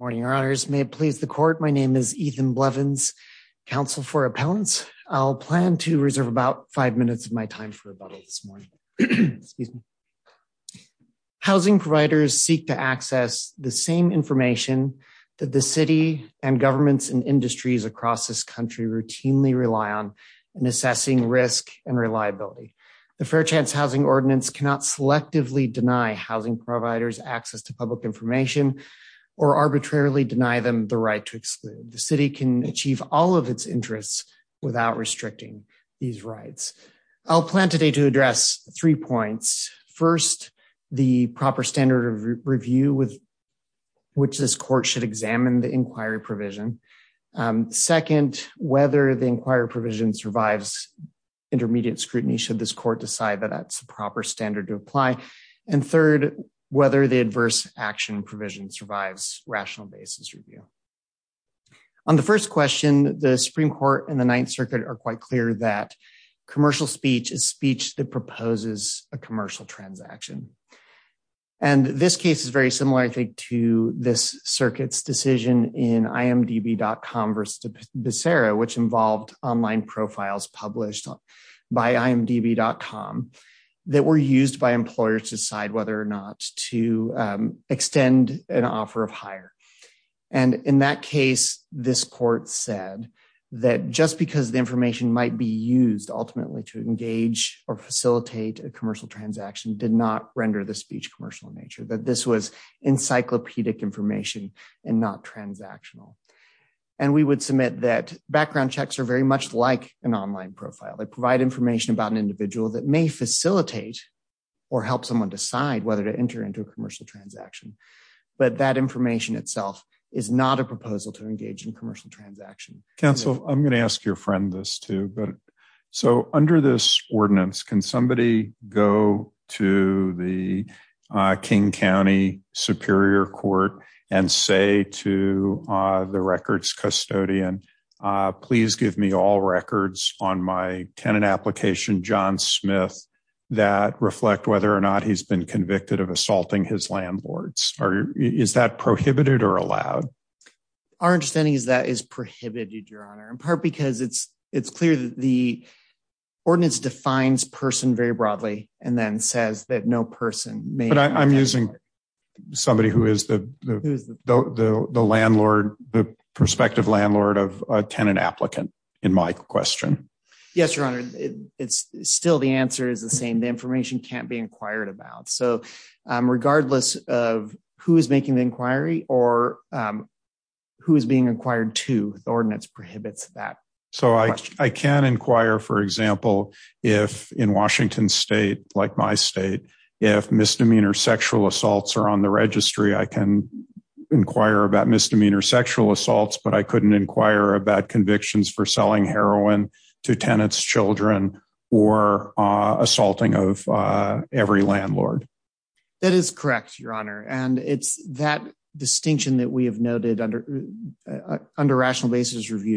Good morning, Your Honors. May it please the court. My name is Ethan Blevins, counsel for appellants. I'll plan to reserve about five minutes of my time for rebuttal this morning. Housing providers seek to access the same information that the city and governments and industries across this country routinely rely on in assessing risk and reliability. The Fair Chance Housing Ordinance cannot selectively deny housing providers access to public information or arbitrarily deny them the right to exclude. The city can achieve all of its interests without restricting these rights. I'll plan today to address three points. First, the Second, whether the inquiry provision survives intermediate scrutiny should this court decide that that's a proper standard to apply. And third, whether the adverse action provision survives rational basis review. On the first question, the Supreme Court and the Ninth Circuit are quite clear that commercial speech is speech that proposes a commercial transaction. And this case is very similar, I think, to this circuit's decision in imdb.com versus Becerra, which involved online profiles published by imdb.com that were used by employers to decide whether or not to extend an offer of hire. And in that case, this court said that just because the information might be used ultimately to engage or facilitate a commercial transaction did not encyclopedic information and not transactional. And we would submit that background checks are very much like an online profile. They provide information about an individual that may facilitate or help someone decide whether to enter into a commercial transaction. But that information itself is not a proposal to engage in commercial transaction. Counsel, I'm going to ask your friend this too. So under this ordinance, can somebody go to the King County Superior Court and say to the records custodian, please give me all records on my tenant application, John Smith, that reflect whether or not he's been convicted of assaulting his landlords? Is that prohibited or allowed? Our understanding is that is prohibited, in part because it's clear that the ordinance defines person very broadly and then says that no person may. But I'm using somebody who is the perspective landlord of a tenant applicant in my question. Yes, your honor. It's still the answer is the same. The information can't be inquired about. So regardless of who is making the inquiry or who is being inquired to the ordinance prohibits that. So I can inquire, for example, if in Washington State, like my state, if misdemeanor sexual assaults are on the registry, I can inquire about misdemeanor sexual assaults, but I couldn't inquire about convictions for selling heroin to tenants, children, or assaulting of every landlord. That is correct, your honor. And it's that distinction that we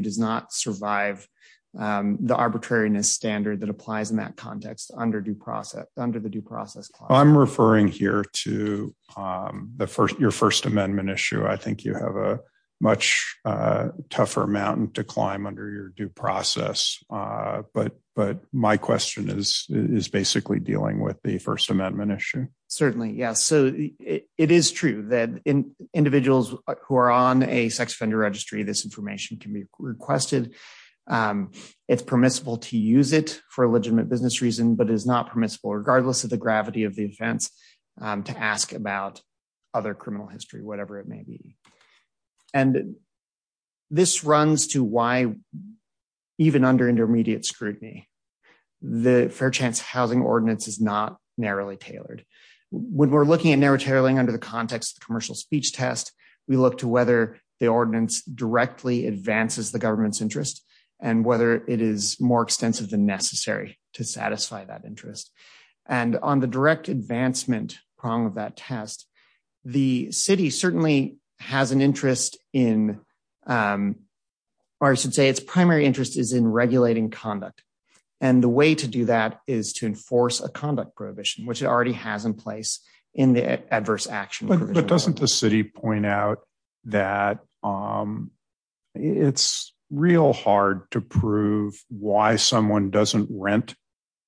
does not survive the arbitrariness standard that applies in that context under the due process. I'm referring here to your First Amendment issue. I think you have a much tougher mountain to climb under your due process. But my question is basically dealing with the First Amendment issue. Certainly. Yeah. So it is true that in individuals who are on a sex offender registry, this information can be requested. It's permissible to use it for legitimate business reason, but is not permissible regardless of the gravity of the offense to ask about other criminal history, whatever it may be. And this runs to why even under intermediate scrutiny, the Fair Chance Housing Ordinance is not narrowly tailored. When we're looking at narrow tailoring under the context of the commercial speech test, we look to whether the ordinance directly advances the government's interest and whether it is more extensive than necessary to satisfy that interest. And on the direct advancement prong of that test, the city certainly has an interest in, or I should say its primary interest is in regulating conduct. And the way to do that is to enforce a conduct prohibition, which it already has in place in the adverse action. But doesn't the city point out that it's real hard to prove why someone doesn't rent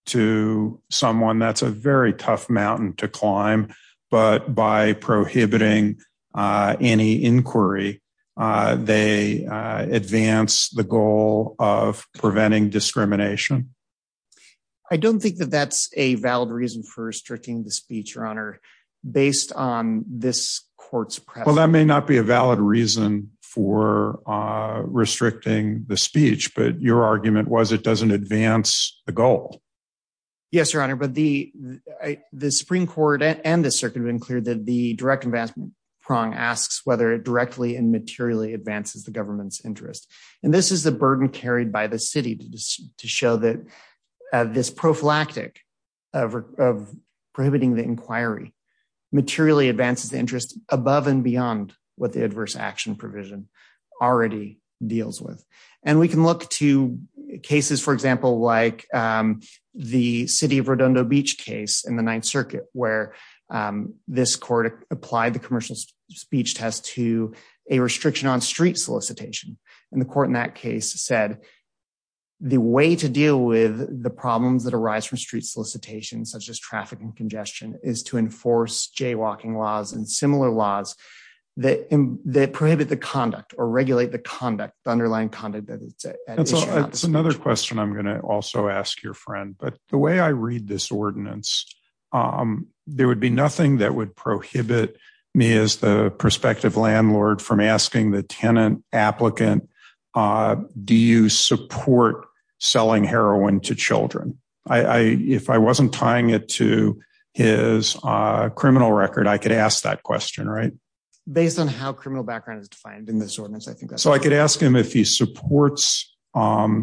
to someone that's a very tough mountain to climb, but by prohibiting any inquiry, they advance the goal of preventing discrimination? I don't think that that's a valid reason for restricting the speech, Your Honor, based on this court's press. Well, that may not be a valid reason for restricting the speech, but your argument was it doesn't advance the goal. Yes, Your Honor, but the Supreme Court and the circuit have been clear that the direct advancement prong asks whether it directly and materially advances the government's interest. And this is the burden carried by the city to show that this prophylactic of prohibiting the inquiry materially advances the interest above and beyond what the adverse action provision already deals with. And we can look to cases, for example, like the city of Redondo Beach case in the Ninth Circuit, where this court applied the commercial speech test to a restriction on street solicitation. And the court in that case said the way to deal with the problems that arise from street solicitation, such as traffic and congestion, is to enforce jaywalking laws and similar laws that prohibit the conduct or regulate the conduct, the underlying conduct. That's another question I'm asking. If I wasn't tying it to his criminal record, I could ask that question, right? Based on how criminal background is defined in this ordinance, I think. So I could ask him if he supports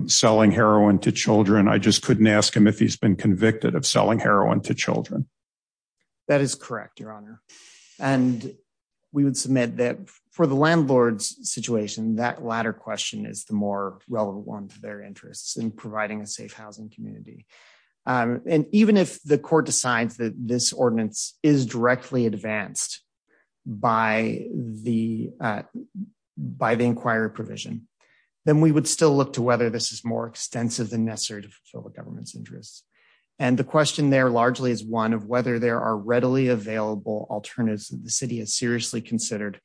selling heroin to children. I just couldn't ask him if he's been convicted of selling heroin to children. That is correct, Your Honor. And we would submit that for the landlord's situation, that latter question is the more relevant one to their interests in providing a safe housing community. And even if the court decides that this ordinance is directly advanced by the inquiry provision, then we would still look to whether this is more extensive than necessary to fulfill government's interests. And the question there largely is one of whether there are readily available alternatives that the city has seriously considered.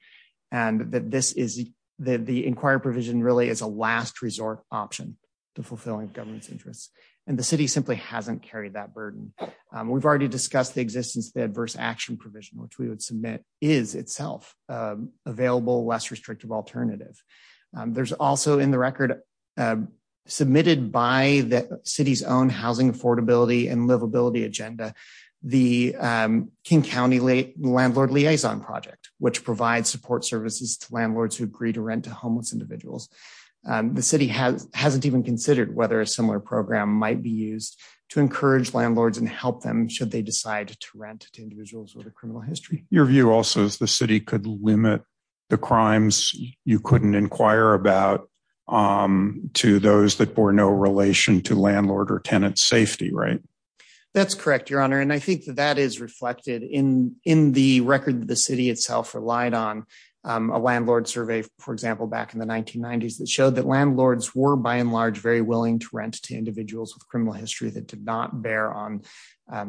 And that the inquiry provision really is a last resort option to fulfilling government's interests. And the city simply hasn't carried that burden. We've already discussed the existence of the adverse action provision, which we would submit is itself available, less restrictive alternative. There's also in the record, submitted by the city's own housing affordability and livability agenda, the King County Landlord Liaison Project, which provides support services to landlords who agree to rent to homeless individuals. The city hasn't even considered whether a similar program might be used to encourage landlords and help them should they decide to rent to individuals with a criminal history. Your view also is the city could limit the crimes you couldn't inquire about to those that bore no relation to landlord or tenant safety, right? That's correct, Your Honor. And I think that is reflected in the record that the city itself relied on. A landlord survey, for example, back in the 1990s that showed that landlords were, by and large, very willing to rent to individuals with criminal history that did not bear on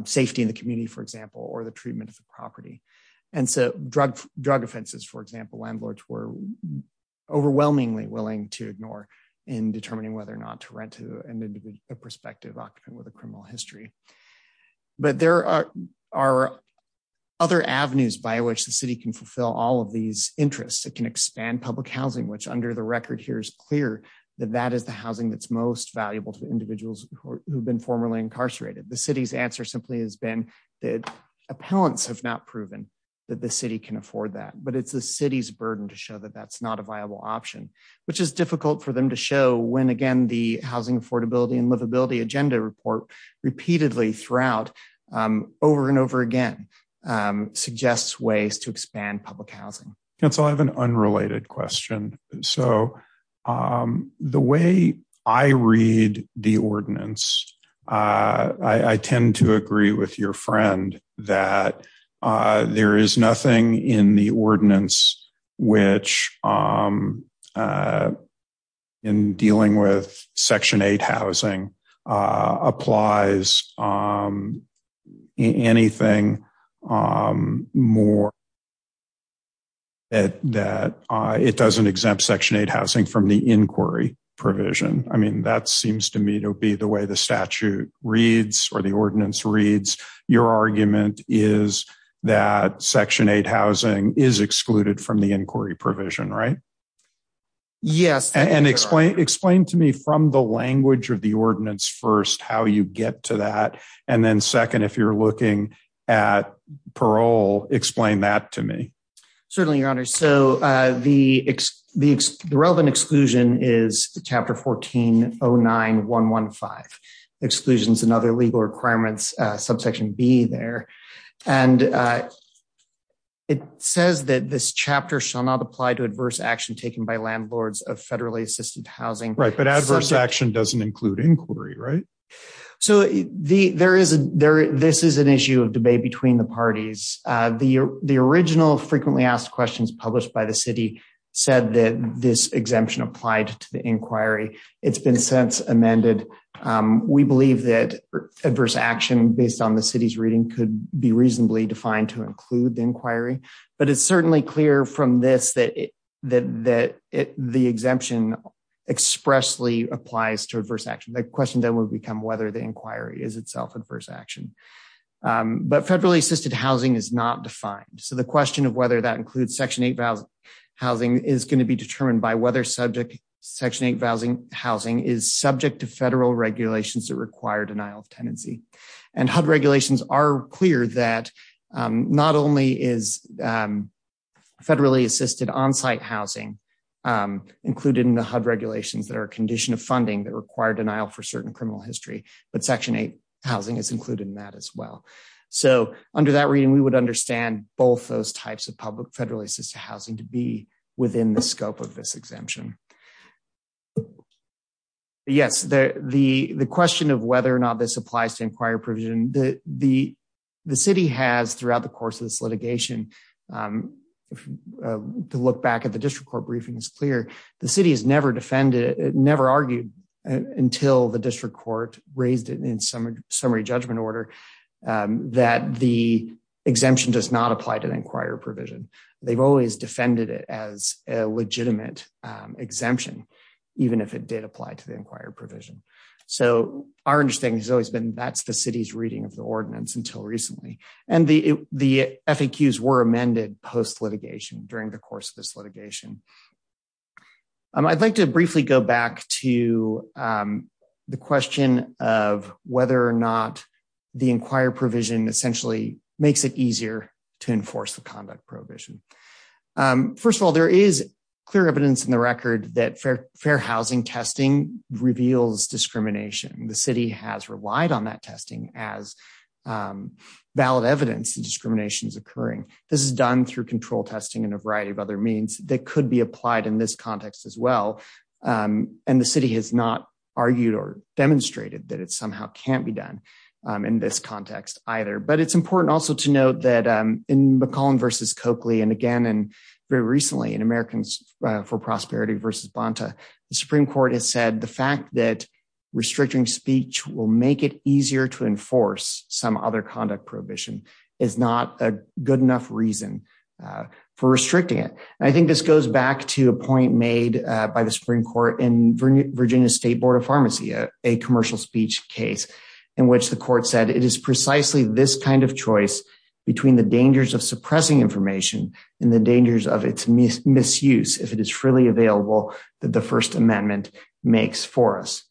safety in the community, for example, or the treatment of the property. And so drug offenses, for example, landlords were overwhelmingly willing to ignore in determining whether or not to rent to an individual with a criminal history. But there are other avenues by which the city can fulfill all of these interests. It can expand public housing, which under the record here is clear that that is the housing that's most valuable to individuals who have been formerly incarcerated. The city's answer simply has been that appellants have not proven that city can afford that. But it's the city's burden to show that that's not a viable option, which is difficult for them to show when, again, the housing affordability and livability agenda report repeatedly throughout over and over again suggests ways to expand public housing. Counsel, I have an unrelated question. So the way I read the ordinance, I tend to agree with your friend that there is nothing in the ordinance which in dealing with Section 8 housing applies anything more that it doesn't exempt Section 8 housing from the inquiry provision. That seems to me to be the way the statute reads or the ordinance reads. Your argument is that Section 8 housing is excluded from the inquiry provision, right? Yes. And explain to me from the language of the ordinance first how you get to that. And then second, if you're looking at parole, explain that to me. Certainly, Your Honor. So the relevant exclusion is Chapter 14-09-115. Exclusion is another legal requirements, subsection B there. And it says that this chapter shall not apply to adverse action taken by landlords of federally assisted housing. Right. But adverse action doesn't include inquiry, right? So this is an issue of debate between the parties. The original frequently asked questions published by the city said that this exemption applied to the inquiry. It's been since amended. We believe that adverse action based on the city's reading could be reasonably defined to include the inquiry. But it's certainly clear from this that the exemption expressly applies to adverse action. The question then would become whether the inquiry is itself adverse action. But federally assisted housing is not defined. So the question of whether that includes Section 8 housing is going to be determined by whether subject Section 8 housing is subject to federal regulations that require denial of tenancy. And HUD regulations are clear that not only is federally assisted on-site housing included in the HUD regulations that are a condition of funding that require denial for certain criminal history, but Section 8 housing is included in that as well. So under that reading, we would understand both those types of public federally assisted housing to be within the scope of this exemption. Yes, the question of whether or not this applies to inquiry provision, the city has throughout the course of this litigation, to look back at the district court briefing is clear. The city has never defended it, never argued until the district court raised it in summary judgment order, that the exemption does not apply to the inquiry provision. They've always defended it as a legitimate exemption, even if it did apply to the inquiry provision. So our understanding has always been that's the city's reading of the ordinance until recently. And the FAQs were amended post litigation during the course of this litigation. I'd like to briefly go back to the question of whether or not the inquiry provision essentially makes it easier to enforce the conduct prohibition. First of all, there is clear evidence in the record that fair housing testing reveals discrimination. The city has relied on that testing as valid evidence that discrimination is occurring. This is done through control testing and a variety of other means that could be applied in this context as well. And the city has not argued or demonstrated that it somehow can't be done in this context either. But it's important also to note that in McCollum versus Coakley and again, and very recently in Americans for Prosperity versus Bonta, the Supreme Court has said the fact that restricting speech will make it easier to enforce some other conduct prohibition is not a good enough reason for restricting it. I think this goes back to a point made by the Supreme Court in Virginia State Board of Pharmacy, a commercial speech case, in which the court said it is precisely this kind of choice between the dangers of suppressing information and the dangers of its misuse if it is freely available that the First Amendment makes for us.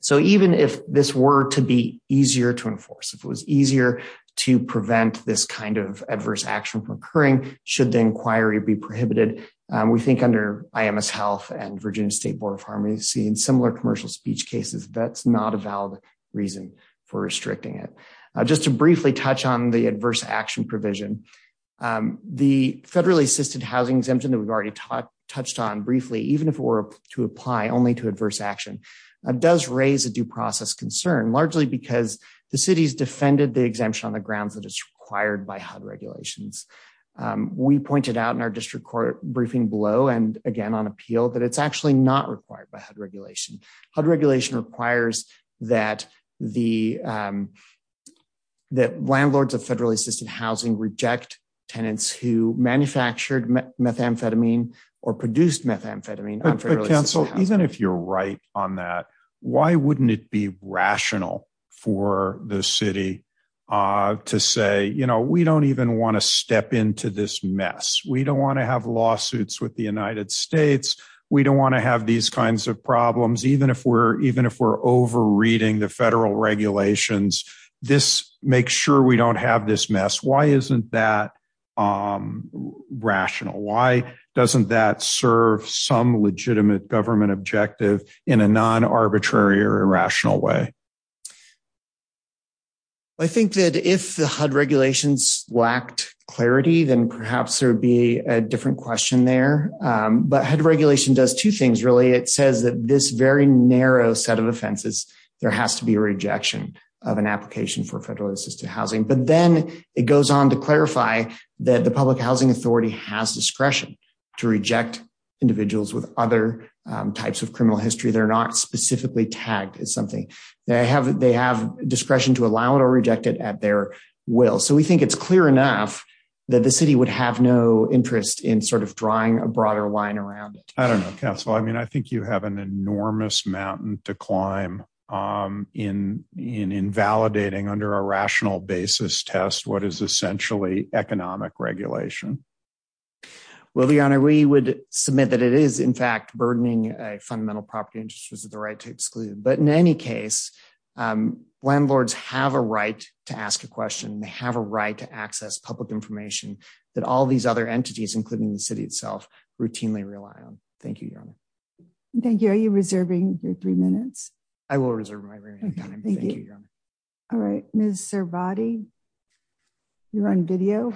So even if this were to be easier to enforce, if it was easier to prevent this kind of adverse action from occurring, should the inquiry be prohibited, we think under IMS Health and Virginia State Board of Pharmacy and similar commercial speech cases, that's not a valid reason for restricting it. Just to briefly touch on the adverse action provision, the federally assisted housing exemption that we've already touched on briefly, even if it were to apply only to adverse action, does raise a due process concern largely because the city's defended the exemption on the grounds that it's required by HUD regulations. We pointed out in our district court briefing below and again on appeal that it's actually not required by HUD regulation. HUD regulation requires that landlords of federally assisted housing reject tenants who manufactured methamphetamine or produced methamphetamine. Even if you're right on that, why wouldn't it be rational for the city to say, you know, we don't even want to step into this mess. We don't want to have lawsuits with the United States. We don't want to have these kinds of problems. Even if we're over reading the federal regulations, this makes sure we don't have this mess. Why isn't that rational? Why doesn't that serve some legitimate government objective in a non-arbitrary or irrational way? I think that if the HUD regulations lacked clarity, then perhaps there would be a different question there. But HUD regulation does two things, really. It says that this very narrow set of offenses, there has to be a rejection of an application for federally assisted housing. But then it goes on to clarify that the public housing authority has discretion to reject individuals with other types of criminal history. They're not specifically tagged as something. They have discretion to allow it or reject it at their will. So we think it's clear enough that the city would have no interest in sort of drawing a broader line around it. I don't know, counsel. I mean, I think you have an enormous mountain to climb in invalidating under a rational basis test what is essentially economic regulation. Well, Your Honor, we would submit that it is in fact burdening a fundamental property interest with the right to exclude. But in any case, landlords have a right to ask a question. They have a right to access public information that all these other entities, including the city itself, routinely rely on. Thank you, Your Honor. Thank you. Are you reserving your three minutes? I will reserve my remaining time. Thank you, Your Honor. All right. Ms. Servati, you're on video.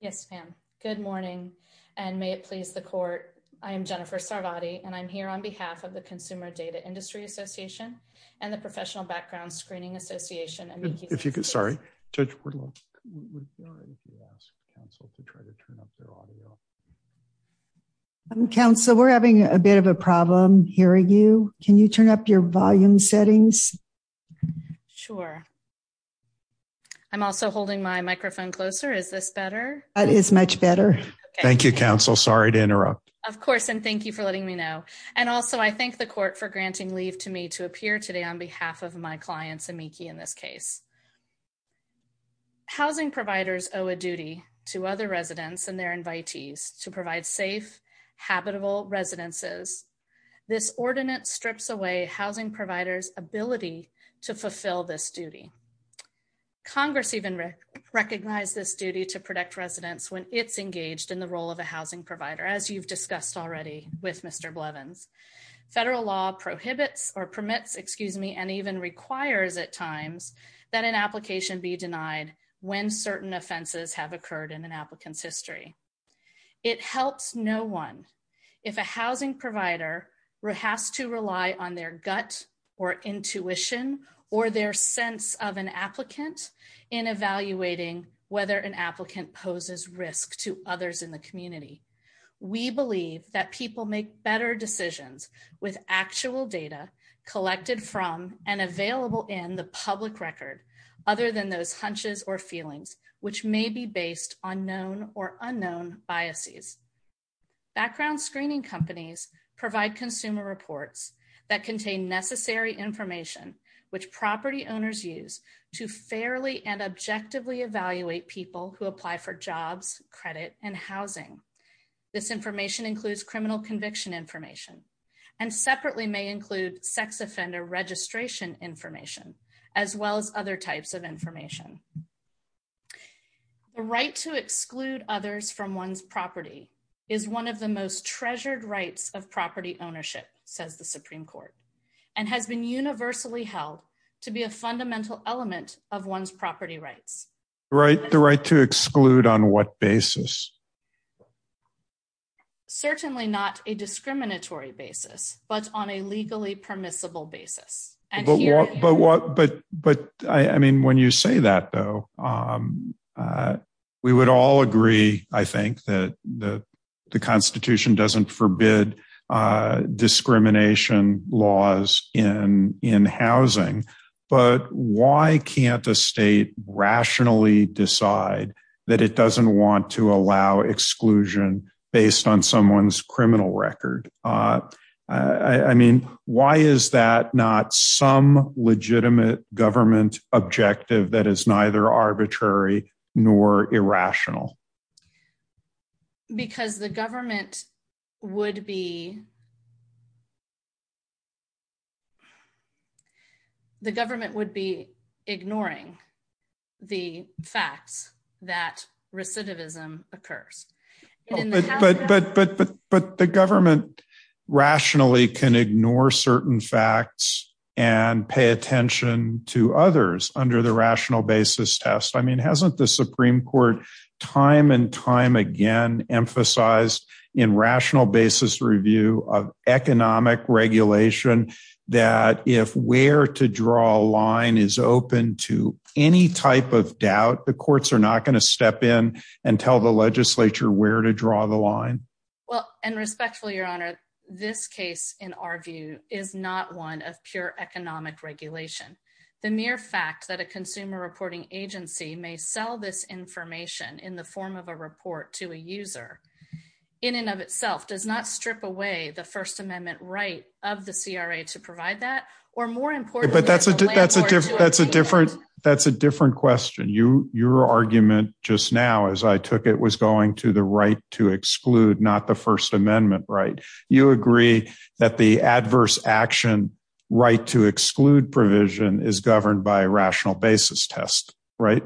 Yes, ma'am. Good morning, and may it please the court. I am Jennifer Servati, and I'm here on behalf of the Consumer Data Industry Association and the Professional Background Screening Association. If you could, sorry, Judge Portillo. Counsel, we're having a bit of a problem hearing you. Can you turn up your volume settings? Sure. I'm also holding my microphone closer. Is this better? That is much better. Thank you, counsel. Sorry to interrupt. Of course, and thank you for letting me know. And also, I thank the court for granting leave to me to appear today on behalf of my clients, amici in this case. Housing providers owe a duty to other residents and their invitees to provide safe, habitable residences. This ordinance strips away housing providers' ability to fulfill this duty. Congress even recognized this duty to protect residents when it's engaged in the role of a housing provider, as you've discussed already with Mr. Blevins. Federal law prohibits or permits, excuse me, and even requires at times that an application be denied when certain offenses have occurred in an applicant's history. It helps no one if a housing provider has to rely on their gut or intuition or their sense of an applicant in evaluating whether an applicant poses risk to others in the community. We believe that people make better decisions with actual data collected from and available in the public record other than those hunches or feelings, which may be based on known or unknown biases. Background screening companies provide consumer reports that contain necessary information, which property owners use to fairly and objectively evaluate people who apply for jobs, credit, and housing. This information includes criminal conviction information and separately may include sex offender registration information as well as other types of information. The right to exclude others from one's property is one of the most treasured rights of property ownership, says the Supreme Court, and has been universally held to be a fundamental element of one's property rights. The right to exclude on what basis? Certainly not a discriminatory basis, but on a legally permissible basis. But what, but, but, I mean, when you say that, though, we would all agree, I think, that the the Constitution doesn't forbid discrimination laws in, in housing, but why can't the state rationally decide that it doesn't want to allow exclusion based on someone's criminal record? I, I mean, why is that not some legitimate government objective that is neither arbitrary nor irrational? Because the government would be, the government would be ignoring the facts that recidivism occurs. But, but, but, but, but the government rationally can ignore certain facts and pay attention to others under the rational basis test. I mean, hasn't the Supreme Court time and time again emphasized in rational basis review of economic regulation that if where to draw a line is open to any type of doubt, the courts are not going to step in and tell the legislature where to draw the line? Well, and respectfully, Your Honor, this case, in our view, is not one of pure economic regulation. The mere fact that a consumer reporting agency may sell this information in the form of a report to a user in and of itself does not strip away the first amendment right of the CRA to provide that, or more importantly, that's a different, that's a different, that's a different question. You, your argument just now, as I took it was going to the right to exclude, not the first amendment, right? You agree that the adverse action right to exclude provision is governed by a rational basis test, right?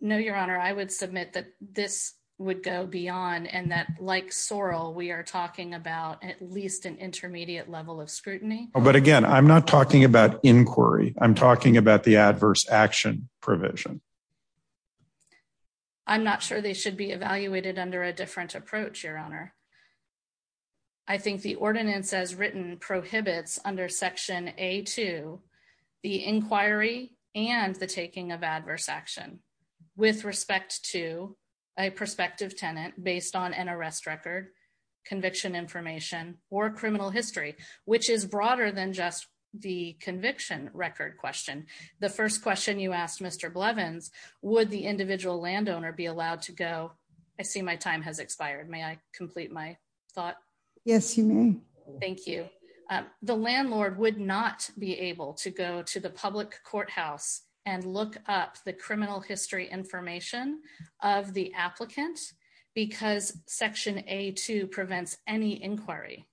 No, Your Honor, I would submit that this would go beyond and that like Sorrell, we are talking about at least an intermediate level of scrutiny. But again, I'm not talking about inquiry. I'm talking about the adverse action provision. I'm not sure they should be evaluated under a different approach, Your Honor. I think the ordinance as written prohibits under section A2, the inquiry and the taking of adverse action with respect to a prospective tenant based on an arrest record, conviction information, or criminal history, which is broader than just the conviction record question. The first question you asked, Mr. Blevins, would the individual landowner be allowed to go? I see my time has my thought. Yes, you may. Thank you. The landlord would not be able to go to the public courthouse and look up the criminal history information of the applicant because section A2 prevents any inquiry.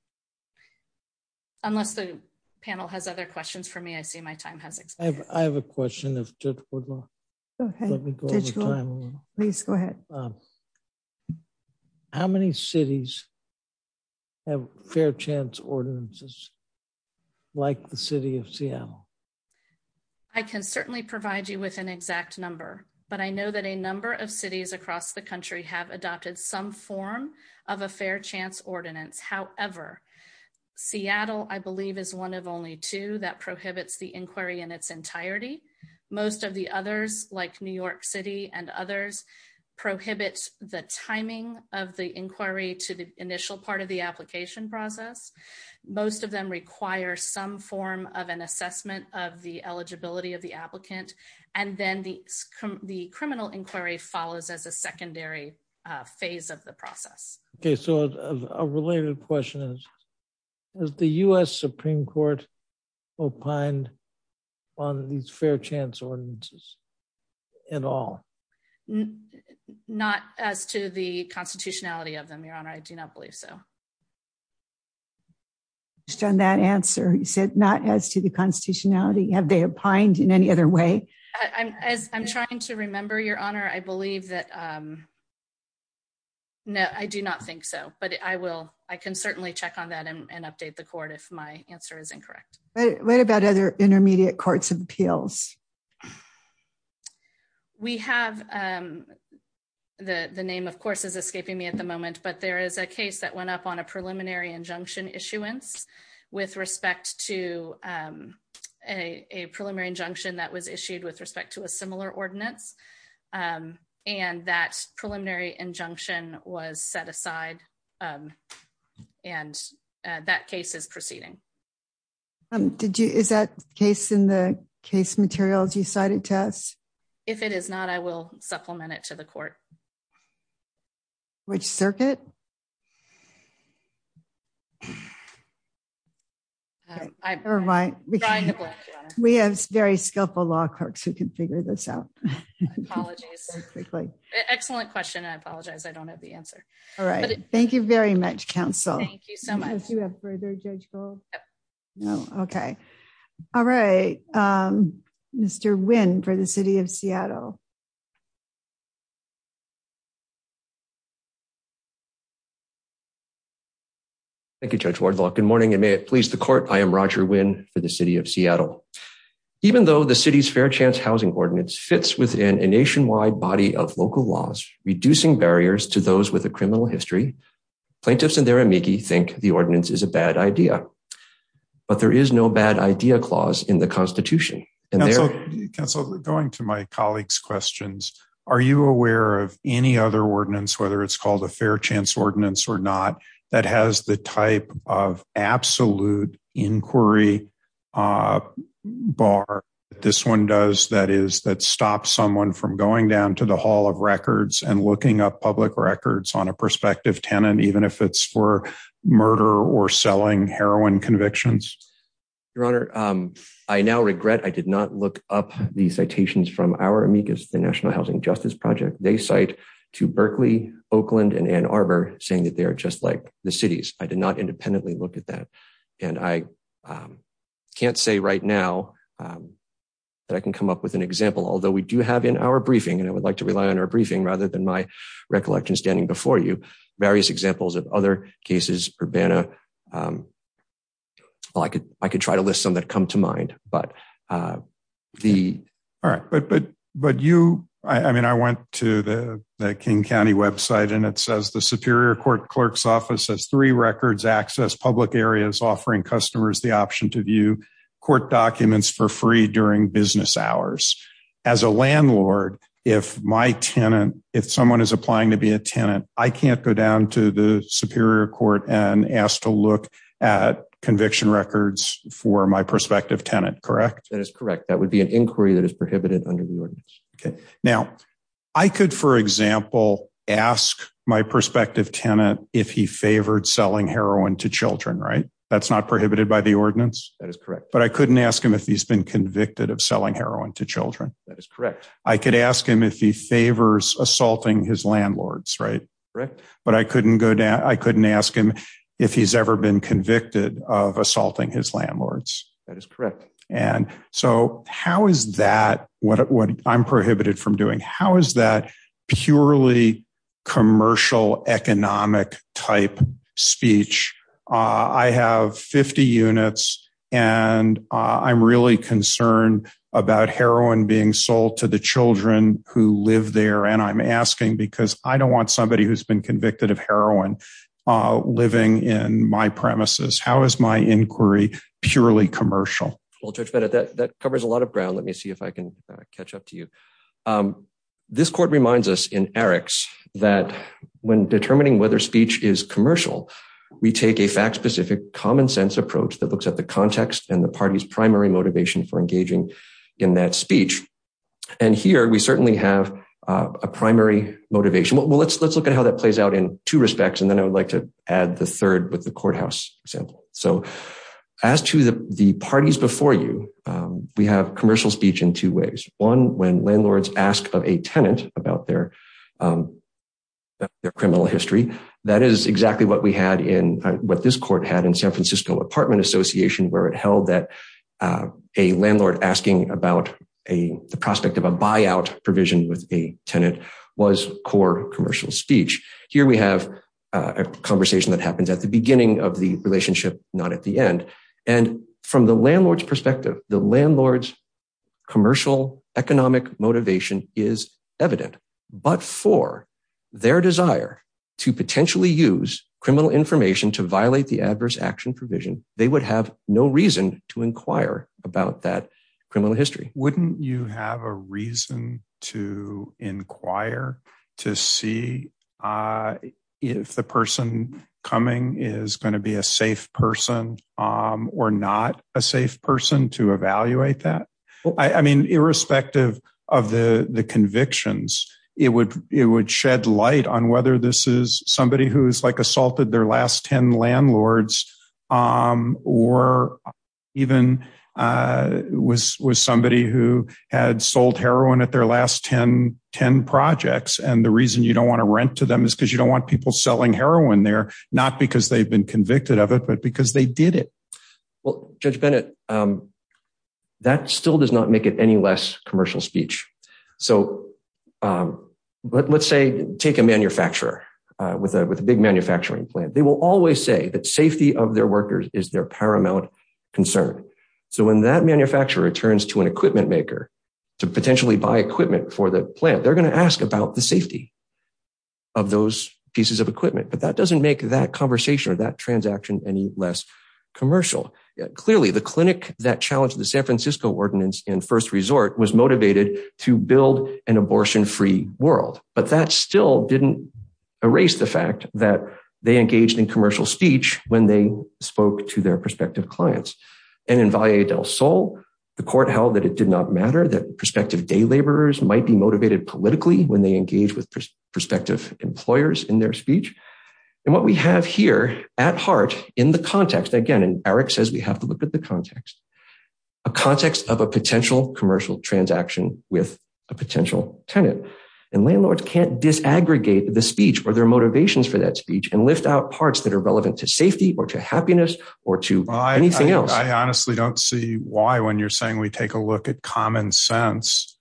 Unless the panel has other questions for me, I see my time has expired. I have a question. Go ahead. Please go ahead. How many cities have fair chance ordinances like the city of Seattle? I can certainly provide you with an exact number, but I know that a number of cities across the country have adopted some form of a fair chance ordinance. However, Seattle, I believe, is one of only two that prohibits the inquiry in its entirety. Most of the others, like New York City and others, prohibit the timing of the inquiry to the initial part of the application process. Most of them require some form of an assessment of the eligibility of the applicant. Then the criminal inquiry follows as a secondary phase of the process. Has the U.S. Supreme Court opined on these fair chance ordinances at all? Not as to the constitutionality of them, Your Honor. I do not believe so. I understand that answer. You said not as to the constitutionality. Have they opined in any other way? I'm trying to remember, Your Honor. I believe that... No, I do not think so, but I can certainly check on that and update the court if my answer is incorrect. What about other intermediate courts of appeals? We have... The name, of course, is escaping me at the moment, but there is a case that went up on a preliminary injunction issuance with respect to a preliminary injunction that was issued with a similar ordinance, and that preliminary injunction was set aside, and that case is proceeding. Is that case in the case materials you cited to us? If it is not, I will supplement it to the court. Which circuit? I'm trying to... We have very skillful law clerks who can figure this out. Apologies. Excellent question. I apologize. I don't have the answer. All right. Thank you very much, counsel. Thank you so much. Do you have further judge call? No. Okay. All right. Mr. Nguyen for the City of Seattle. Thank you, Judge Wardlaw. Good morning, and may it please the court. I am Roger Nguyen for the City of Seattle. Even though the city's Fair Chance Housing Ordinance fits within a nationwide body of local laws, reducing barriers to those with a criminal history, plaintiffs and their amici think the ordinance is a bad idea, but there is no bad idea clause in the Constitution. Counsel, going to my colleague's questions, are you aware of any other ordinance, whether it's or not, that has the type of absolute inquiry bar that this one does that stops someone from going down to the Hall of Records and looking up public records on a prospective tenant, even if it's for murder or selling heroin convictions? Your Honor, I now regret I did not look up the citations from our amicus, the National Housing Justice Project. They cite to Berkeley, Oakland, and Ann Arbor, saying that they are just like the cities. I did not independently look at that. I can't say right now that I can come up with an example, although we do have in our briefing, and I would like to rely on our briefing rather than my recollection standing before you, various examples of other cases, Urbana. I could try to list some that come to mind. All right, but you, I mean, I went to the King County website and it says, the Superior Court Clerk's Office has three records access public areas offering customers the option to view court documents for free during business hours. As a landlord, if my tenant, if someone is applying to be a tenant, I can't go down to the Superior Court and ask to correct. That is correct. That would be an inquiry that is prohibited under the ordinance. Okay. Now I could, for example, ask my prospective tenant if he favored selling heroin to children, right? That's not prohibited by the ordinance. That is correct. But I couldn't ask him if he's been convicted of selling heroin to children. That is correct. I could ask him if he favors assaulting his landlords, right? Correct. But I couldn't go down. I couldn't ask him if he's ever been convicted of assaulting his landlords. That is correct. And so how is that what I'm prohibited from doing? How is that purely commercial economic type speech? I have 50 units and I'm really concerned about heroin being sold to the children who live there. And I'm asking because I don't want somebody who's been convicted of heroin living in my premises. How is my inquiry purely commercial? Well, Judge Bennett, that covers a lot of ground. Let me see if I can catch up to you. This court reminds us in Eric's that when determining whether speech is commercial, we take a fact specific common sense approach that looks at the context and the party's primary motivation for engaging in that speech. And here, we certainly have a primary motivation. Well, let's look at how that plays out in two respects. And then I would like to add the third with the courthouse example. So as to the parties before you, we have commercial speech in two ways. One, when landlords ask of a tenant about their criminal history, that is exactly what this court had in San Francisco Apartment Association, where it held that a landlord asking about the prospect of a buyout provision with a tenant was core commercial speech. Here, we have a conversation that happens at the beginning of the relationship, not at the end. And from the landlord's perspective, the landlord's commercial economic motivation is evident. But for their desire to potentially use criminal information to violate the adverse action provision, they would have no reason to inquire about that criminal history. Wouldn't you have a reason to inquire to see if the person coming is going to be a safe person or not a safe person to evaluate that? I mean, irrespective of the convictions, it would shed light on whether this is somebody who's like assaulted their last 10 landlords or even was somebody who had sold heroin at their last 10 projects. And the reason you don't want to rent to them is because you don't want people selling heroin there, not because they've been convicted of it, but because they did it. Well, Judge Bennett, that still does not make it any commercial speech. So let's say take a manufacturer with a big manufacturing plant. They will always say that safety of their workers is their paramount concern. So when that manufacturer turns to an equipment maker to potentially buy equipment for the plant, they're going to ask about the safety of those pieces of equipment. But that doesn't make that conversation or that transaction any less commercial. Clearly, the clinic that challenged the San Francisco ordinance in first resort was motivated to build an abortion-free world, but that still didn't erase the fact that they engaged in commercial speech when they spoke to their prospective clients. And in Valle del Sol, the court held that it did not matter that prospective day laborers might be motivated politically when they engage with prospective employers in their speech. And what we have here at heart in the context, again, and Eric says we have to look at the potential commercial transaction with a potential tenant and landlords can't disaggregate the speech or their motivations for that speech and lift out parts that are relevant to safety or to happiness or to anything else. I honestly don't see why when you're saying we take a look at common sense.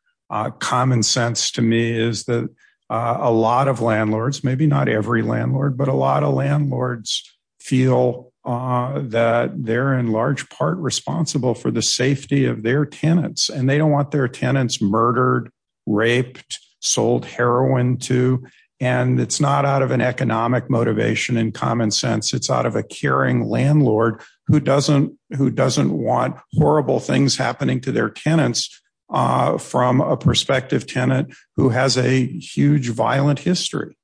Common sense to me is that a lot of landlords, maybe not every landlord, but a lot of landlords feel that they're in large part responsible for the safety of their tenants and they don't want their tenants murdered, raped, sold heroin to, and it's not out of an economic motivation in common sense. It's out of a caring landlord who doesn't want horrible things happening to their tenants from a prospective tenant who has a huge violent history.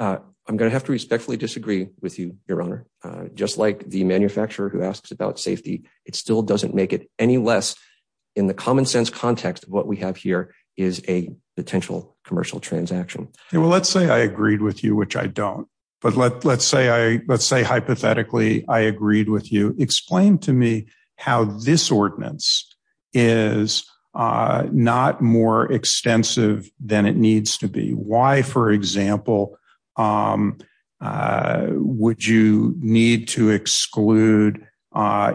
I'm going to have to respectfully disagree with you, Your Honor. Just like the manufacturer who asks about safety, it still doesn't make it any less in the common sense context of what we have here is a potential commercial transaction. Well, let's say I agreed with you, which I don't, but let's say hypothetically I agreed with you. Explain to me how this ordinance is not more extensive than it needs to be. Why, for example, would you need to exclude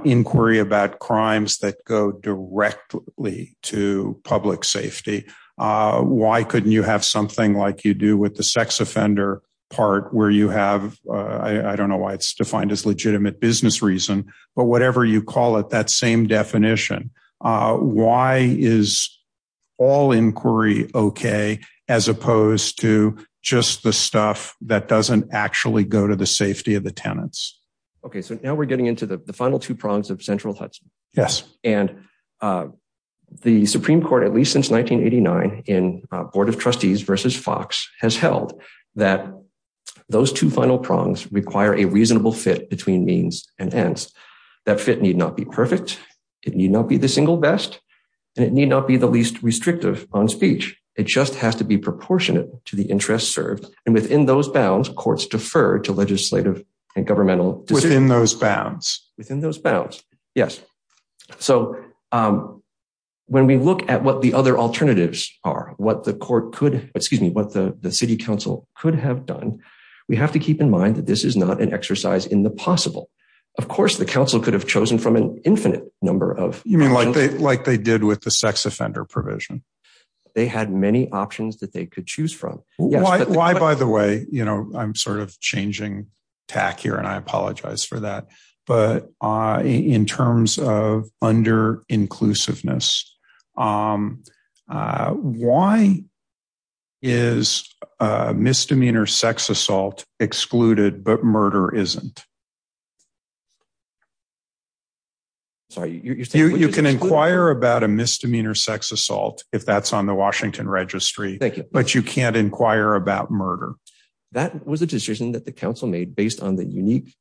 inquiry about crimes that go directly to public safety? Why couldn't you have something like you do with the sex offender part where you have, I don't know why it's defined as legitimate business reason, but whatever you call it, that same definition. Why is all inquiry okay as opposed to just the stuff that doesn't actually go to the safety of the tenants? Okay, so now we're getting into the final two prongs of central Hudson. Yes. And the Supreme Court, at least since 1989 in Board of Trustees versus Fox has held that those two final prongs require a reasonable fit between means and ends. That fit need not be perfect. It need not be the single best, and it need not be the least restrictive on speech. It just has to be proportionate to the interest served. And within those bounds, courts defer to legislative and governmental- Within those bounds. Within those bounds. Yes. So when we look at what the other alternatives are, what the court could, excuse me, what the city council could have done, we have to keep in mind that this is not an infinite number of- You mean like they did with the sex offender provision? They had many options that they could choose from. Why, by the way, I'm sort of changing tack here and I apologize for that, but in terms of under inclusiveness, why is a misdemeanor sex assault excluded but murder isn't? You can inquire about a misdemeanor sex assault if that's on the Washington registry. Thank you. But you can't inquire about murder. That was a decision that the council made based on the unique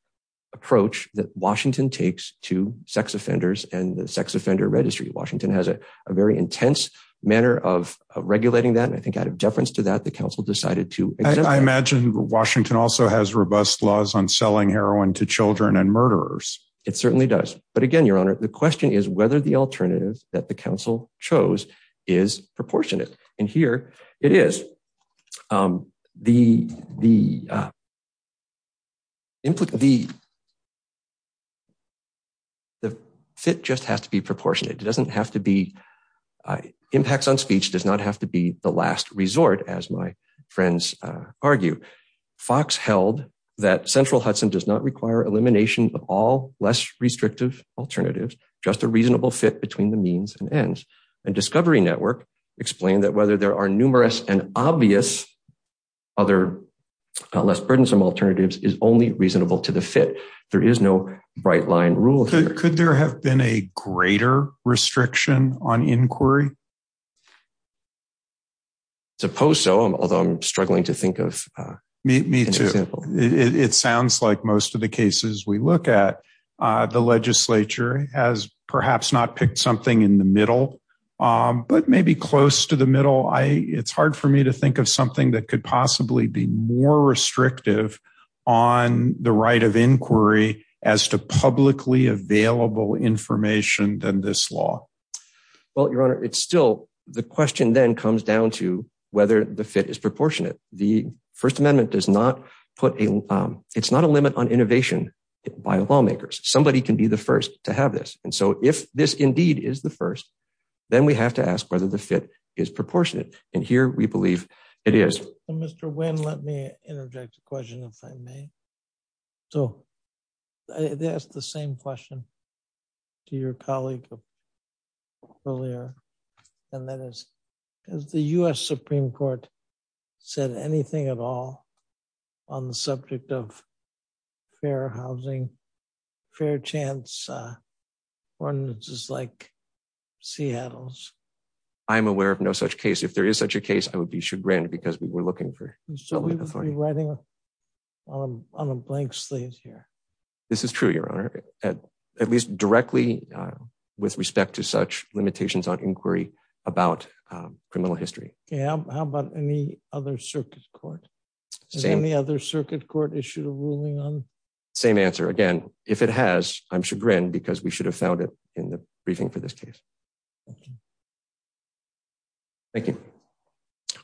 approach that Washington takes to sex offenders and the sex offender registry. Washington has a very intense manner of regulating that, and I think out of deference to that, the council decided to- I imagine Washington also has robust laws on selling heroin to children and murderers. It certainly does. But again, Your Honor, the question is whether the alternative that the council chose is proportionate, and here it is. The fit just has to be proportionate. Impacts on speech does not have to be the last resort, as my friends argue. Fox held that Central Hudson does not require elimination of all less restrictive alternatives, just a reasonable fit between the means and ends. And Discovery Network explained that whether there are numerous and obvious other less burdensome alternatives is only reasonable to the fit. There is no bright line rule here. Could there have been a greater restriction on inquiry? I suppose so, although I'm struggling to think of an example. Me too. It sounds like most of the cases we look at, the legislature has perhaps not picked something in the middle, but maybe close to the middle. It's hard for me to think of something that could possibly be more restrictive on the right of inquiry as to publicly available information than this law. Well, Your Honor, it's still the question then comes down to whether the fit is proportionate. The First Amendment does not put a it's not a limit on innovation by lawmakers. Somebody can be the first to have this. And so if this indeed is the first, then we have to ask whether the fit is proportionate. And here we believe it is. Mr. Wynn, let me interject a question if I may. So I asked the same question to your colleague earlier, and that is, has the U.S. Supreme Court said anything at all on the subject of fair housing, fair chance ordinances like Seattle's? I'm aware of no such case. If there is such a case, I would be chagrined because we were so writing on a blank slate here. This is true, Your Honor, at least directly with respect to such limitations on inquiry about criminal history. How about any other circuit court, any other circuit court issued a ruling on same answer again? If it has, I'm chagrined because we should have found it in the briefing for this case. Thank you. I'd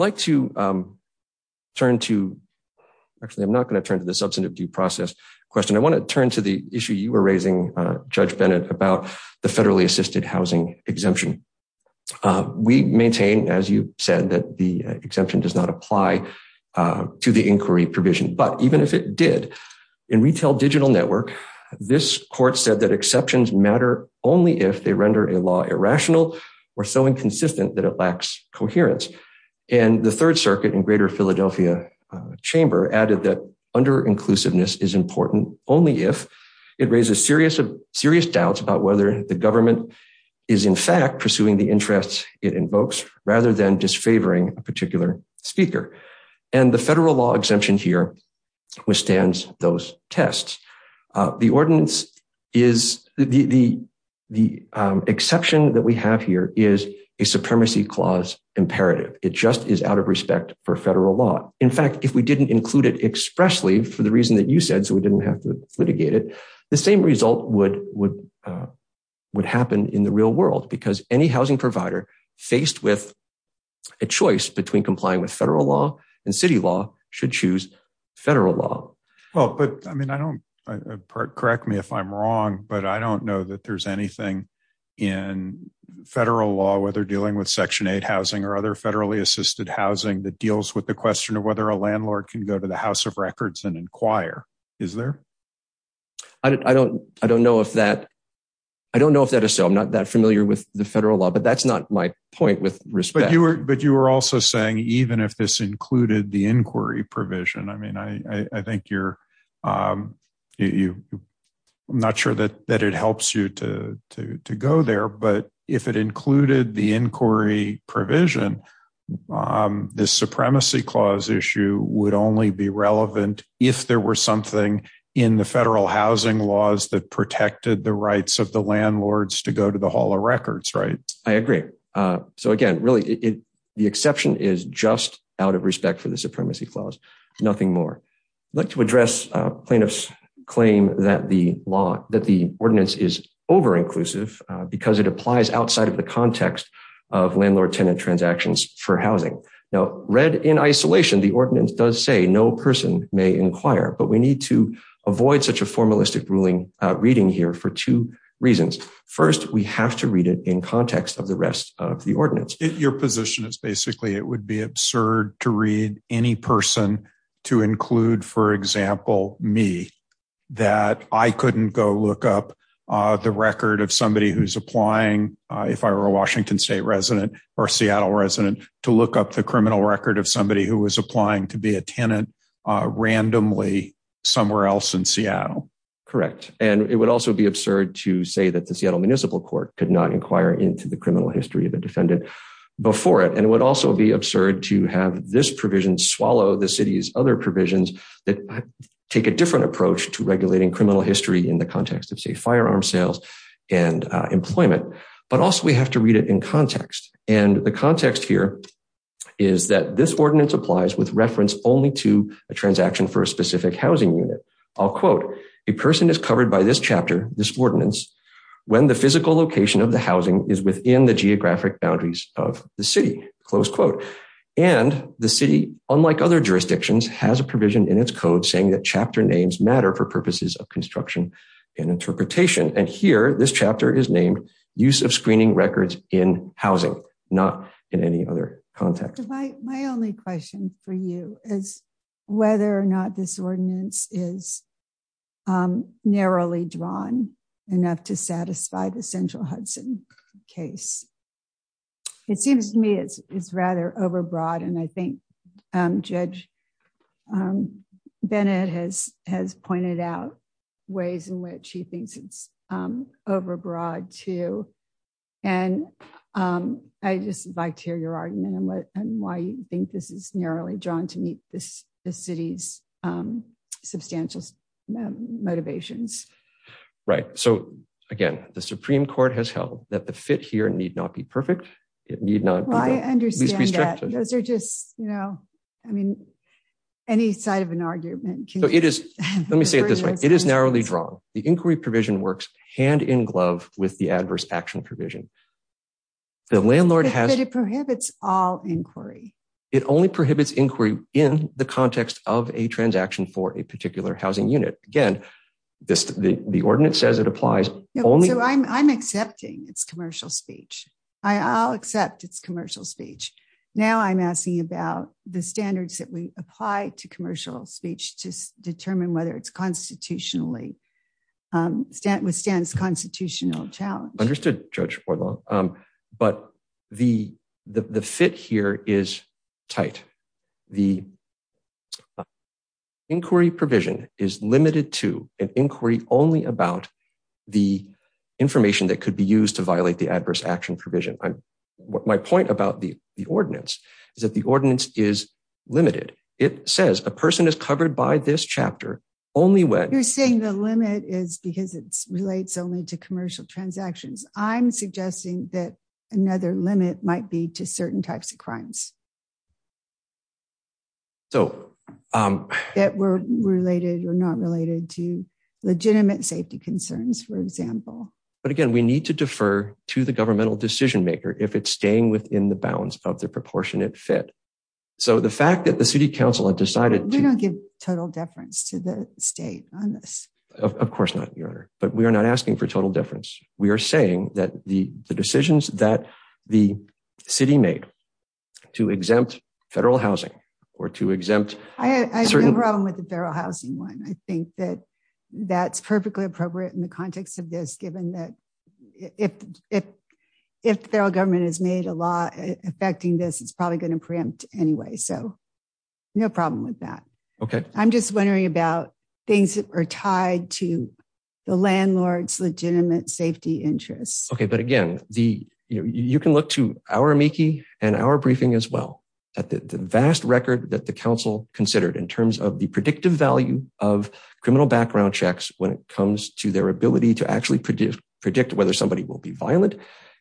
like to turn to, actually, I'm not going to turn to the substantive due process question. I want to turn to the issue you were raising, Judge Bennett, about the federally assisted housing exemption. We maintain, as you said, that the exemption does not apply to the inquiry provision. But even if it did, in Retail Digital Network, this court said that it rendered a law irrational or so inconsistent that it lacks coherence. The Third Circuit in Greater Philadelphia Chamber added that under-inclusiveness is important only if it raises serious doubts about whether the government is, in fact, pursuing the interests it invokes rather than disfavoring a particular speaker. The federal law exemption here withstands those tests. The exception that we have here is a supremacy clause imperative. It just is out of respect for federal law. In fact, if we didn't include it expressly for the reason that you said, so we didn't have to litigate it, the same result would happen in the real world because any housing provider faced with a choice between complying with federal law and city law should choose federal law. Well, but I mean, I don't, correct me if I'm wrong, but I don't know that there's anything in federal law, whether dealing with Section 8 housing or other federally assisted housing, that deals with the question of whether a landlord can go to the House of Records and inquire. Is there? I don't know if that is so. I'm not that familiar with the federal law, but that's not my point with respect. But you were also saying even if this included the inquiry provision, I mean, I think you're, I'm not sure that it helps you to go there, but if it included the inquiry provision, this supremacy clause issue would only be relevant if there were something in the federal housing laws that protected the rights of the landlords to go to the Hall of Records, right? I agree. So again, really the exception is just out of respect for the supremacy clause, nothing more. I'd like to address plaintiff's claim that the law, that the ordinance is over-inclusive because it applies outside of the context of landlord-tenant transactions for housing. Now read in isolation, the ordinance does say no person may inquire, but we need to avoid such a formalistic ruling reading here for two reasons. First, we have to read it in context of the rest of the ordinance. Your position is basically it would be absurd to read any person to include, for example, me, that I couldn't go look up the record of somebody who's applying if I were a Washington State resident or Seattle resident to look up the criminal record of somebody who was applying to be a tenant randomly somewhere else in Seattle. Correct. And it would also be absurd to say that the Seattle Municipal Court could not inquire into the criminal history of a defendant before it. And it would also be absurd to have this provision swallow the city's other provisions that take a different approach to regulating criminal history in the context of, say, firearm sales and employment. But also we have to read it in context. And the context here is that this ordinance applies with reference only to a transaction for a specific housing unit. I'll quote, a person is covered by this chapter, this ordinance, when the physical location of the boundaries of the city, close quote. And the city, unlike other jurisdictions, has a provision in its code saying that chapter names matter for purposes of construction and interpretation. And here, this chapter is named use of screening records in housing, not in any other context. My only question for you is whether or not this ordinance is narrowly drawn enough to satisfy the it seems to me it's rather overbroad. And I think Judge Bennett has pointed out ways in which he thinks it's overbroad too. And I just would like to hear your argument on why you think this is narrowly drawn to meet the city's substantial motivations. Right. So again, the Supreme Court has held that the fit here need not be perfect. It need not. Well, I understand that. Those are just, you know, I mean, any side of an argument. So it is, let me say it this way. It is narrowly drawn. The inquiry provision works hand in glove with the adverse action provision. The landlord has. But it prohibits all inquiry. It only prohibits inquiry in the context of a transaction for a particular housing unit. Again, the ordinance says it applies only. So I'm accepting its commercial speech. I'll accept its commercial speech. Now I'm asking about the standards that we apply to commercial speech to determine whether it's constitutionally withstands constitutional challenge. Understood, Judge Portlow. But the fit here is tight. The to violate the adverse action provision. My point about the ordinance is that the ordinance is limited. It says a person is covered by this chapter only when you're saying the limit is because it relates only to commercial transactions. I'm suggesting that another limit might be to certain types of crimes. So that were related or not related to legitimate safety concerns, for example. But again, we need to defer to the governmental decision maker if it's staying within the bounds of the proportionate fit. So the fact that the city council had decided to give total deference to the state on this, of course not your honor, but we are not asking for total difference. We are saying that the decisions that the city made to exempt federal housing or to exempt. I have a problem with the federal housing one. I think that that's perfectly appropriate in the context of this, given that if the federal government has made a law affecting this, it's probably going to preempt anyway. So no problem with that. Okay. I'm just wondering about things that are tied to the landlord's legitimate safety interests. Okay. But again, you can look to our amici and our briefing as well at the vast record that the council considered in terms of the predictive value of criminal background checks when it comes to their ability to actually predict whether somebody will be violent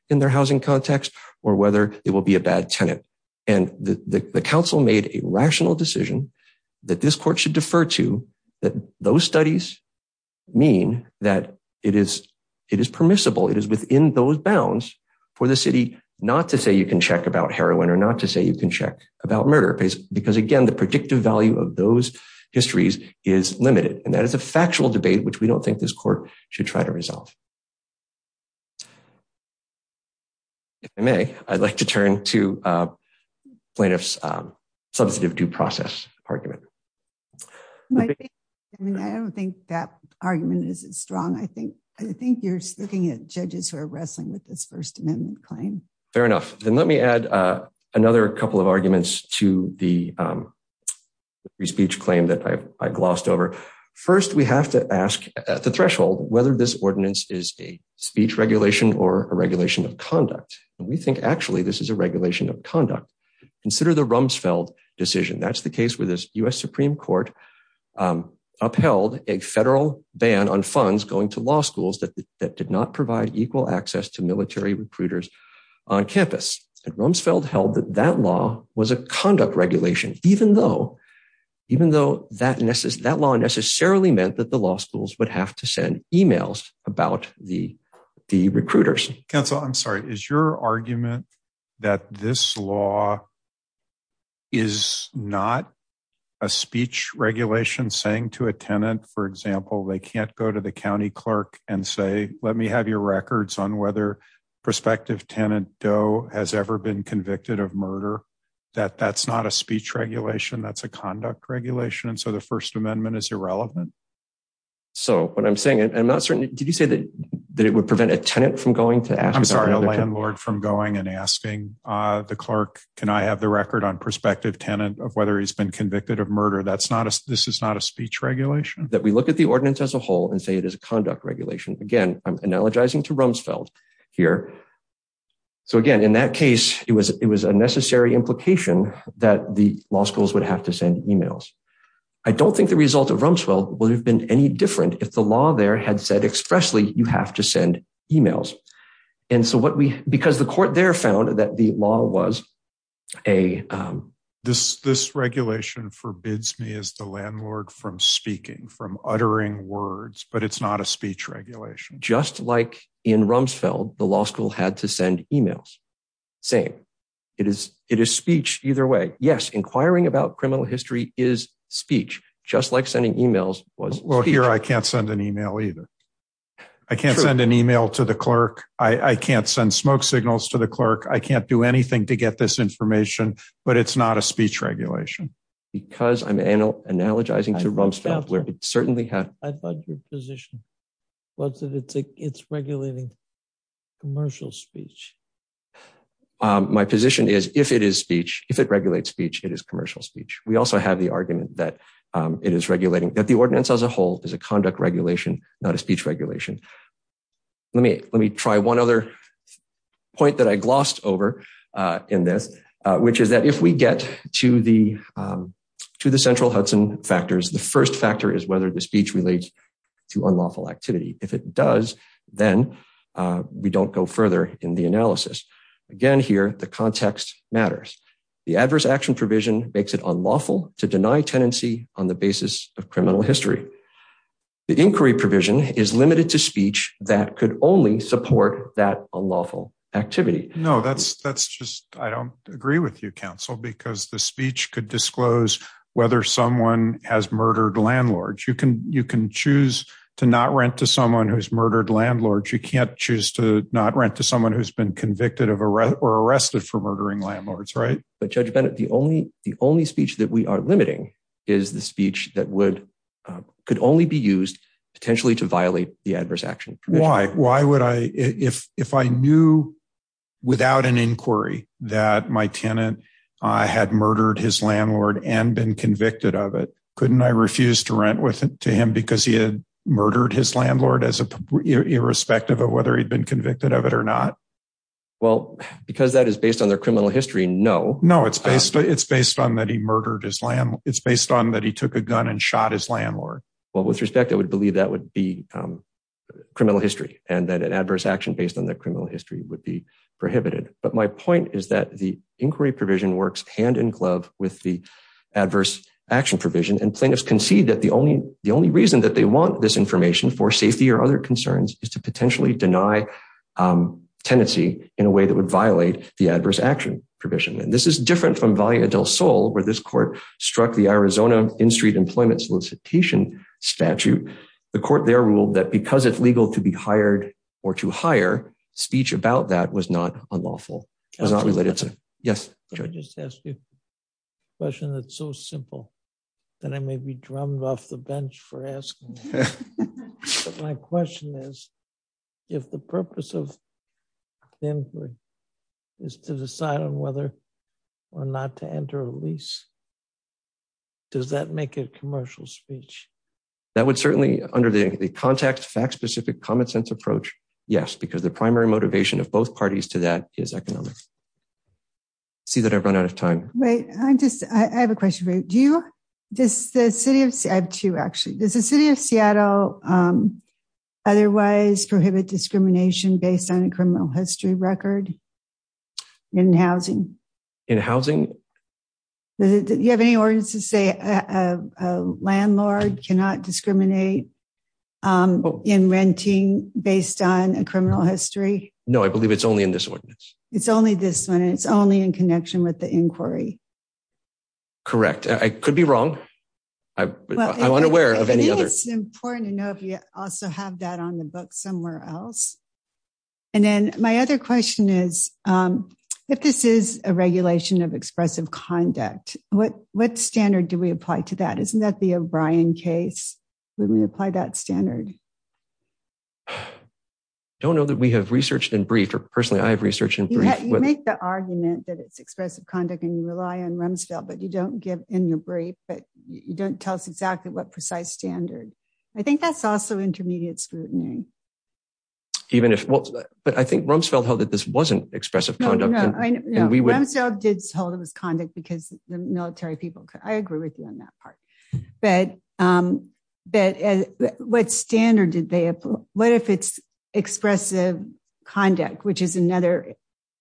in their housing context or whether it will be a bad tenant. And the council made a rational decision that this court should that those studies mean that it is permissible. It is within those bounds for the city, not to say you can check about heroin or not to say you can check about murder because again, the predictive value of those histories is limited. And that is a factual debate, which we don't think this court should try to resolve. If I may, I'd like to turn to plaintiff's due process argument. I don't think that argument is strong. I think you're looking at judges who are wrestling with this first amendment claim. Fair enough. Then let me add another couple of arguments to the free speech claim that I glossed over. First, we have to ask at the threshold, whether this ordinance is a speech regulation or a regulation of conduct. And we think actually, this is a regulation of conduct. Consider the Rumsfeld decision. That's the case where this U.S. Supreme court upheld a federal ban on funds going to law schools that did not provide equal access to military recruiters on campus. And Rumsfeld held that that law was a conduct regulation, even though that law necessarily meant that the law schools would have to send emails about the recruiters. Counsel, I'm sorry. Is your argument that this law is not a speech regulation saying to a tenant, for example, they can't go to the county clerk and say, let me have your records on whether prospective tenant Doe has ever been convicted of murder, that that's not a speech regulation. That's a conduct regulation. And so the first I'm not certain. Did you say that that it would prevent a tenant from going to ask? I'm sorry, a landlord from going and asking the clerk, can I have the record on prospective tenant of whether he's been convicted of murder? That's not a this is not a speech regulation that we look at the ordinance as a whole and say it is a conduct regulation. Again, I'm analogizing to Rumsfeld here. So again, in that case, it was it was a necessary implication that the law schools would have to send emails. I don't think the result of Rumsfeld will have been any different if the law there had said expressly, you have to send emails. And so what we because the court there found that the law was a this this regulation forbids me as the landlord from speaking from uttering words, but it's not a speech regulation, just like in Rumsfeld, the law school had to send emails saying it is it is speech either way. Yes. Inquiring about criminal history is speech, just like sending emails was here. I can't send an email either. I can't send an email to the clerk. I can't send smoke signals to the clerk. I can't do anything to get this information. But it's not a speech regulation. Because I'm analogizing to Rumsfeld, where it certainly had your position was that it's it's regulating commercial speech. My position is if it is speech, if it regulates speech, it is commercial speech. We also have argument that it is regulating that the ordinance as a whole is a conduct regulation, not a speech regulation. Let me let me try one other point that I glossed over in this, which is that if we get to the to the central Hudson factors, the first factor is whether the speech relates to unlawful activity. If it does, then we don't go further in the analysis. Again, here, the context matters. The adverse action provision makes it unlawful to deny tenancy on the basis of criminal history. The inquiry provision is limited to speech that could only support that unlawful activity. No, that's that's just I don't agree with you, counsel, because the speech could disclose whether someone has murdered landlords, you can you can choose to not rent to someone who's murdered landlords, you can't choose to not rent to someone who's been convicted of arrest or but Judge Bennett, the only the only speech that we are limiting is the speech that would could only be used potentially to violate the adverse action. Why? Why would I if if I knew without an inquiry that my tenant had murdered his landlord and been convicted of it, couldn't I refuse to rent with to him because he had murdered his landlord as irrespective of whether he'd been No, it's based it's based on that he murdered his land. It's based on that he took a gun and shot his landlord. Well, with respect, I would believe that would be criminal history and that an adverse action based on that criminal history would be prohibited. But my point is that the inquiry provision works hand in glove with the adverse action provision and plaintiffs concede that the only the only reason that they want this information for safety or other concerns is to different from via Del Sol where this court struck the Arizona in-street employment solicitation statute. The court there ruled that because it's legal to be hired or to hire speech about that was not unlawful. It was not related to yes. Let me just ask you a question that's so simple that I may be drummed off the bench for asking. My question is if the purpose of or not to enter a lease, does that make it commercial speech? That would certainly under the context fact specific common sense approach. Yes, because the primary motivation of both parties to that is economic. See that I've run out of time, right? I just I have a question for you. Do you just the city of two actually does the city of Seattle otherwise prohibit discrimination based on a criminal history record in housing? In housing? You have any ordinance to say a landlord cannot discriminate in renting based on a criminal history? No, I believe it's only in this ordinance. It's only this one. It's only in connection with the inquiry. Correct. I could be wrong. I'm unaware of any other. It's important to know if you also have that on the book somewhere else. And then my other question is, if this is a regulation of expressive conduct, what what standard do we apply to that? Isn't that the O'Brien case? When we apply that standard? Don't know that we have researched and briefed or personally, I've researched and make the argument that it's expressive conduct and rely on Rumsfeld, but you don't give in your brief, but you don't tell us exactly what precise standard. I think that's also intermediate scrutiny. But I think Rumsfeld held that this wasn't expressive conduct. No, Rumsfeld did hold it was conduct because the military people. I agree with you on that part. But what standard did they apply? What if it's expressive conduct, which is another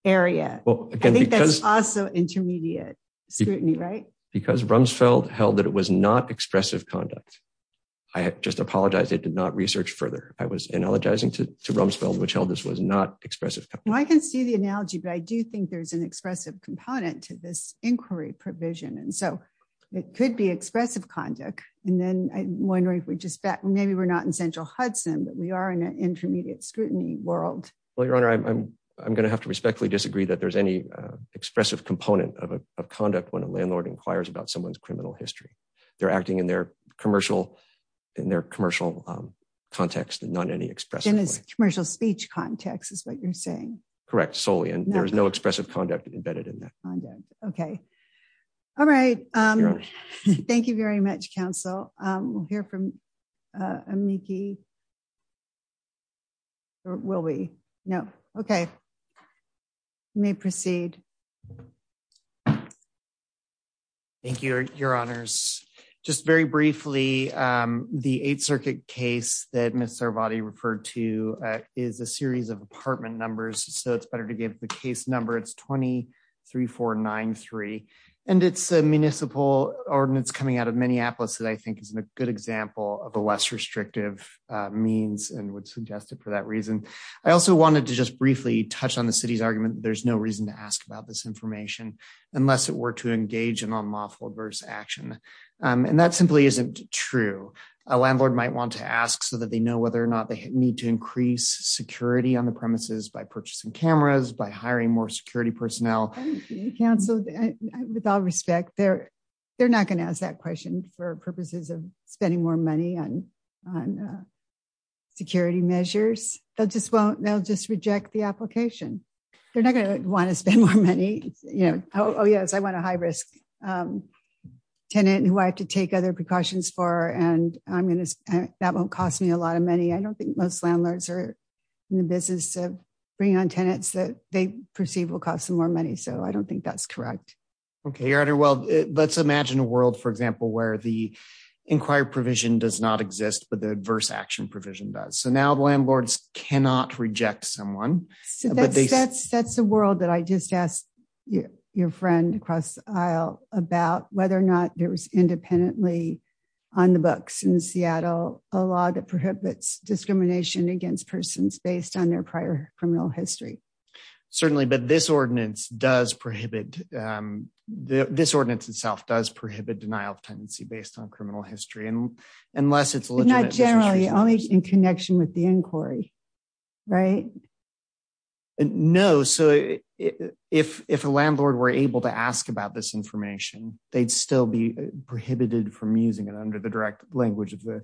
area? I think that's also intermediate scrutiny, right? Because Rumsfeld held that it was not expressive conduct. I just I was analogizing to Rumsfeld, which held this was not expressive. I can see the analogy, but I do think there's an expressive component to this inquiry provision. And so it could be expressive conduct. And then I wonder if we just maybe we're not in central Hudson, but we are in an intermediate scrutiny world. Well, your honor, I'm I'm going to have to respectfully disagree that there's any expressive component of conduct when a landlord inquires about someone's criminal history. They're acting in their commercial in their commercial context and not any express in his commercial speech context is what you're saying. Correct. Solely. And there is no expressive conduct embedded in that. Okay. All right. Thank you very much, counsel. We'll hear from your honors. Just very briefly, the Eighth Circuit case that Mr. Vati referred to is a series of apartment numbers. So it's better to give the case number. It's 23, 493. And it's a municipal ordinance coming out of Minneapolis that I think is a good example of a less restrictive means and would suggest it for that reason. I also wanted to just briefly touch on the city's argument. There's no reason to ask about this information unless it were to action. And that simply isn't true. A landlord might want to ask so that they know whether or not they need to increase security on the premises by purchasing cameras by hiring more security personnel. Council with all respect there. They're not going to ask that question for purposes of spending more money on on security measures that just won't they'll just reject the application. They're not going to want to spend more money. You know, oh, yes, I want a high risk tenant who I have to take other precautions for. And I'm going to that won't cost me a lot of money. I don't think most landlords are in the business of bringing on tenants that they perceive will cost them more money. So I don't think that's correct. Okay, your honor. Well, let's imagine a world for example, where the inquiry provision does not exist, but the adverse action provision does. So now the landlords cannot reject someone. So that's, that's the world that I just asked your friend across the aisle about whether or not there was independently on the books in Seattle, a lot of prohibits discrimination against persons based on their prior criminal history. Certainly, but this ordinance does prohibit this ordinance itself does prohibit denial of tenancy based on criminal history. And unless it's not generally only in connection with the inquiry, right? No. So if if a landlord were able to ask about this information, they'd still be prohibited from using it under the direct language of the,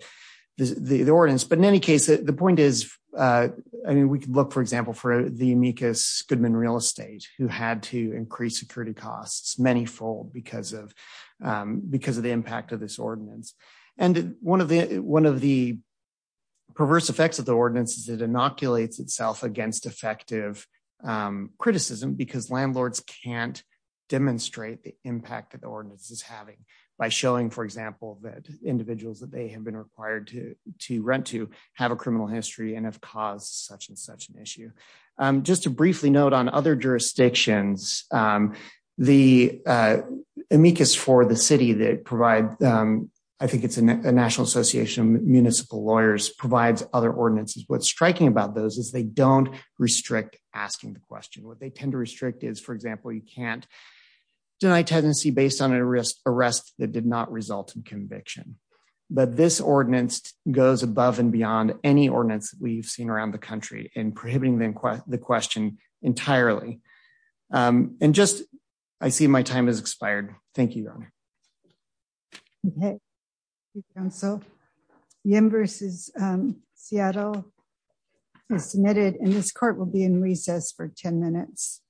the ordinance. But in any case, the point is, I mean, we can look for example, for the amicus Goodman real estate who had to impact of this ordinance. And one of the one of the perverse effects of the ordinance is it inoculates itself against effective criticism because landlords can't demonstrate the impact that the ordinance is having by showing for example, that individuals that they have been required to to rent to have a criminal history and have caused such and such an issue. Just to I think it's a National Association of Municipal Lawyers provides other ordinances. What's striking about those is they don't restrict asking the question what they tend to restrict is for example, you can't deny tenancy based on a risk arrest that did not result in conviction. But this ordinance goes above and beyond any ordinance we've seen around the country and prohibiting them quite the question entirely. And just I see my time has expired. Thank you. Okay. So the embers is Seattle is submitted in this court will be in recess for 10 minutes.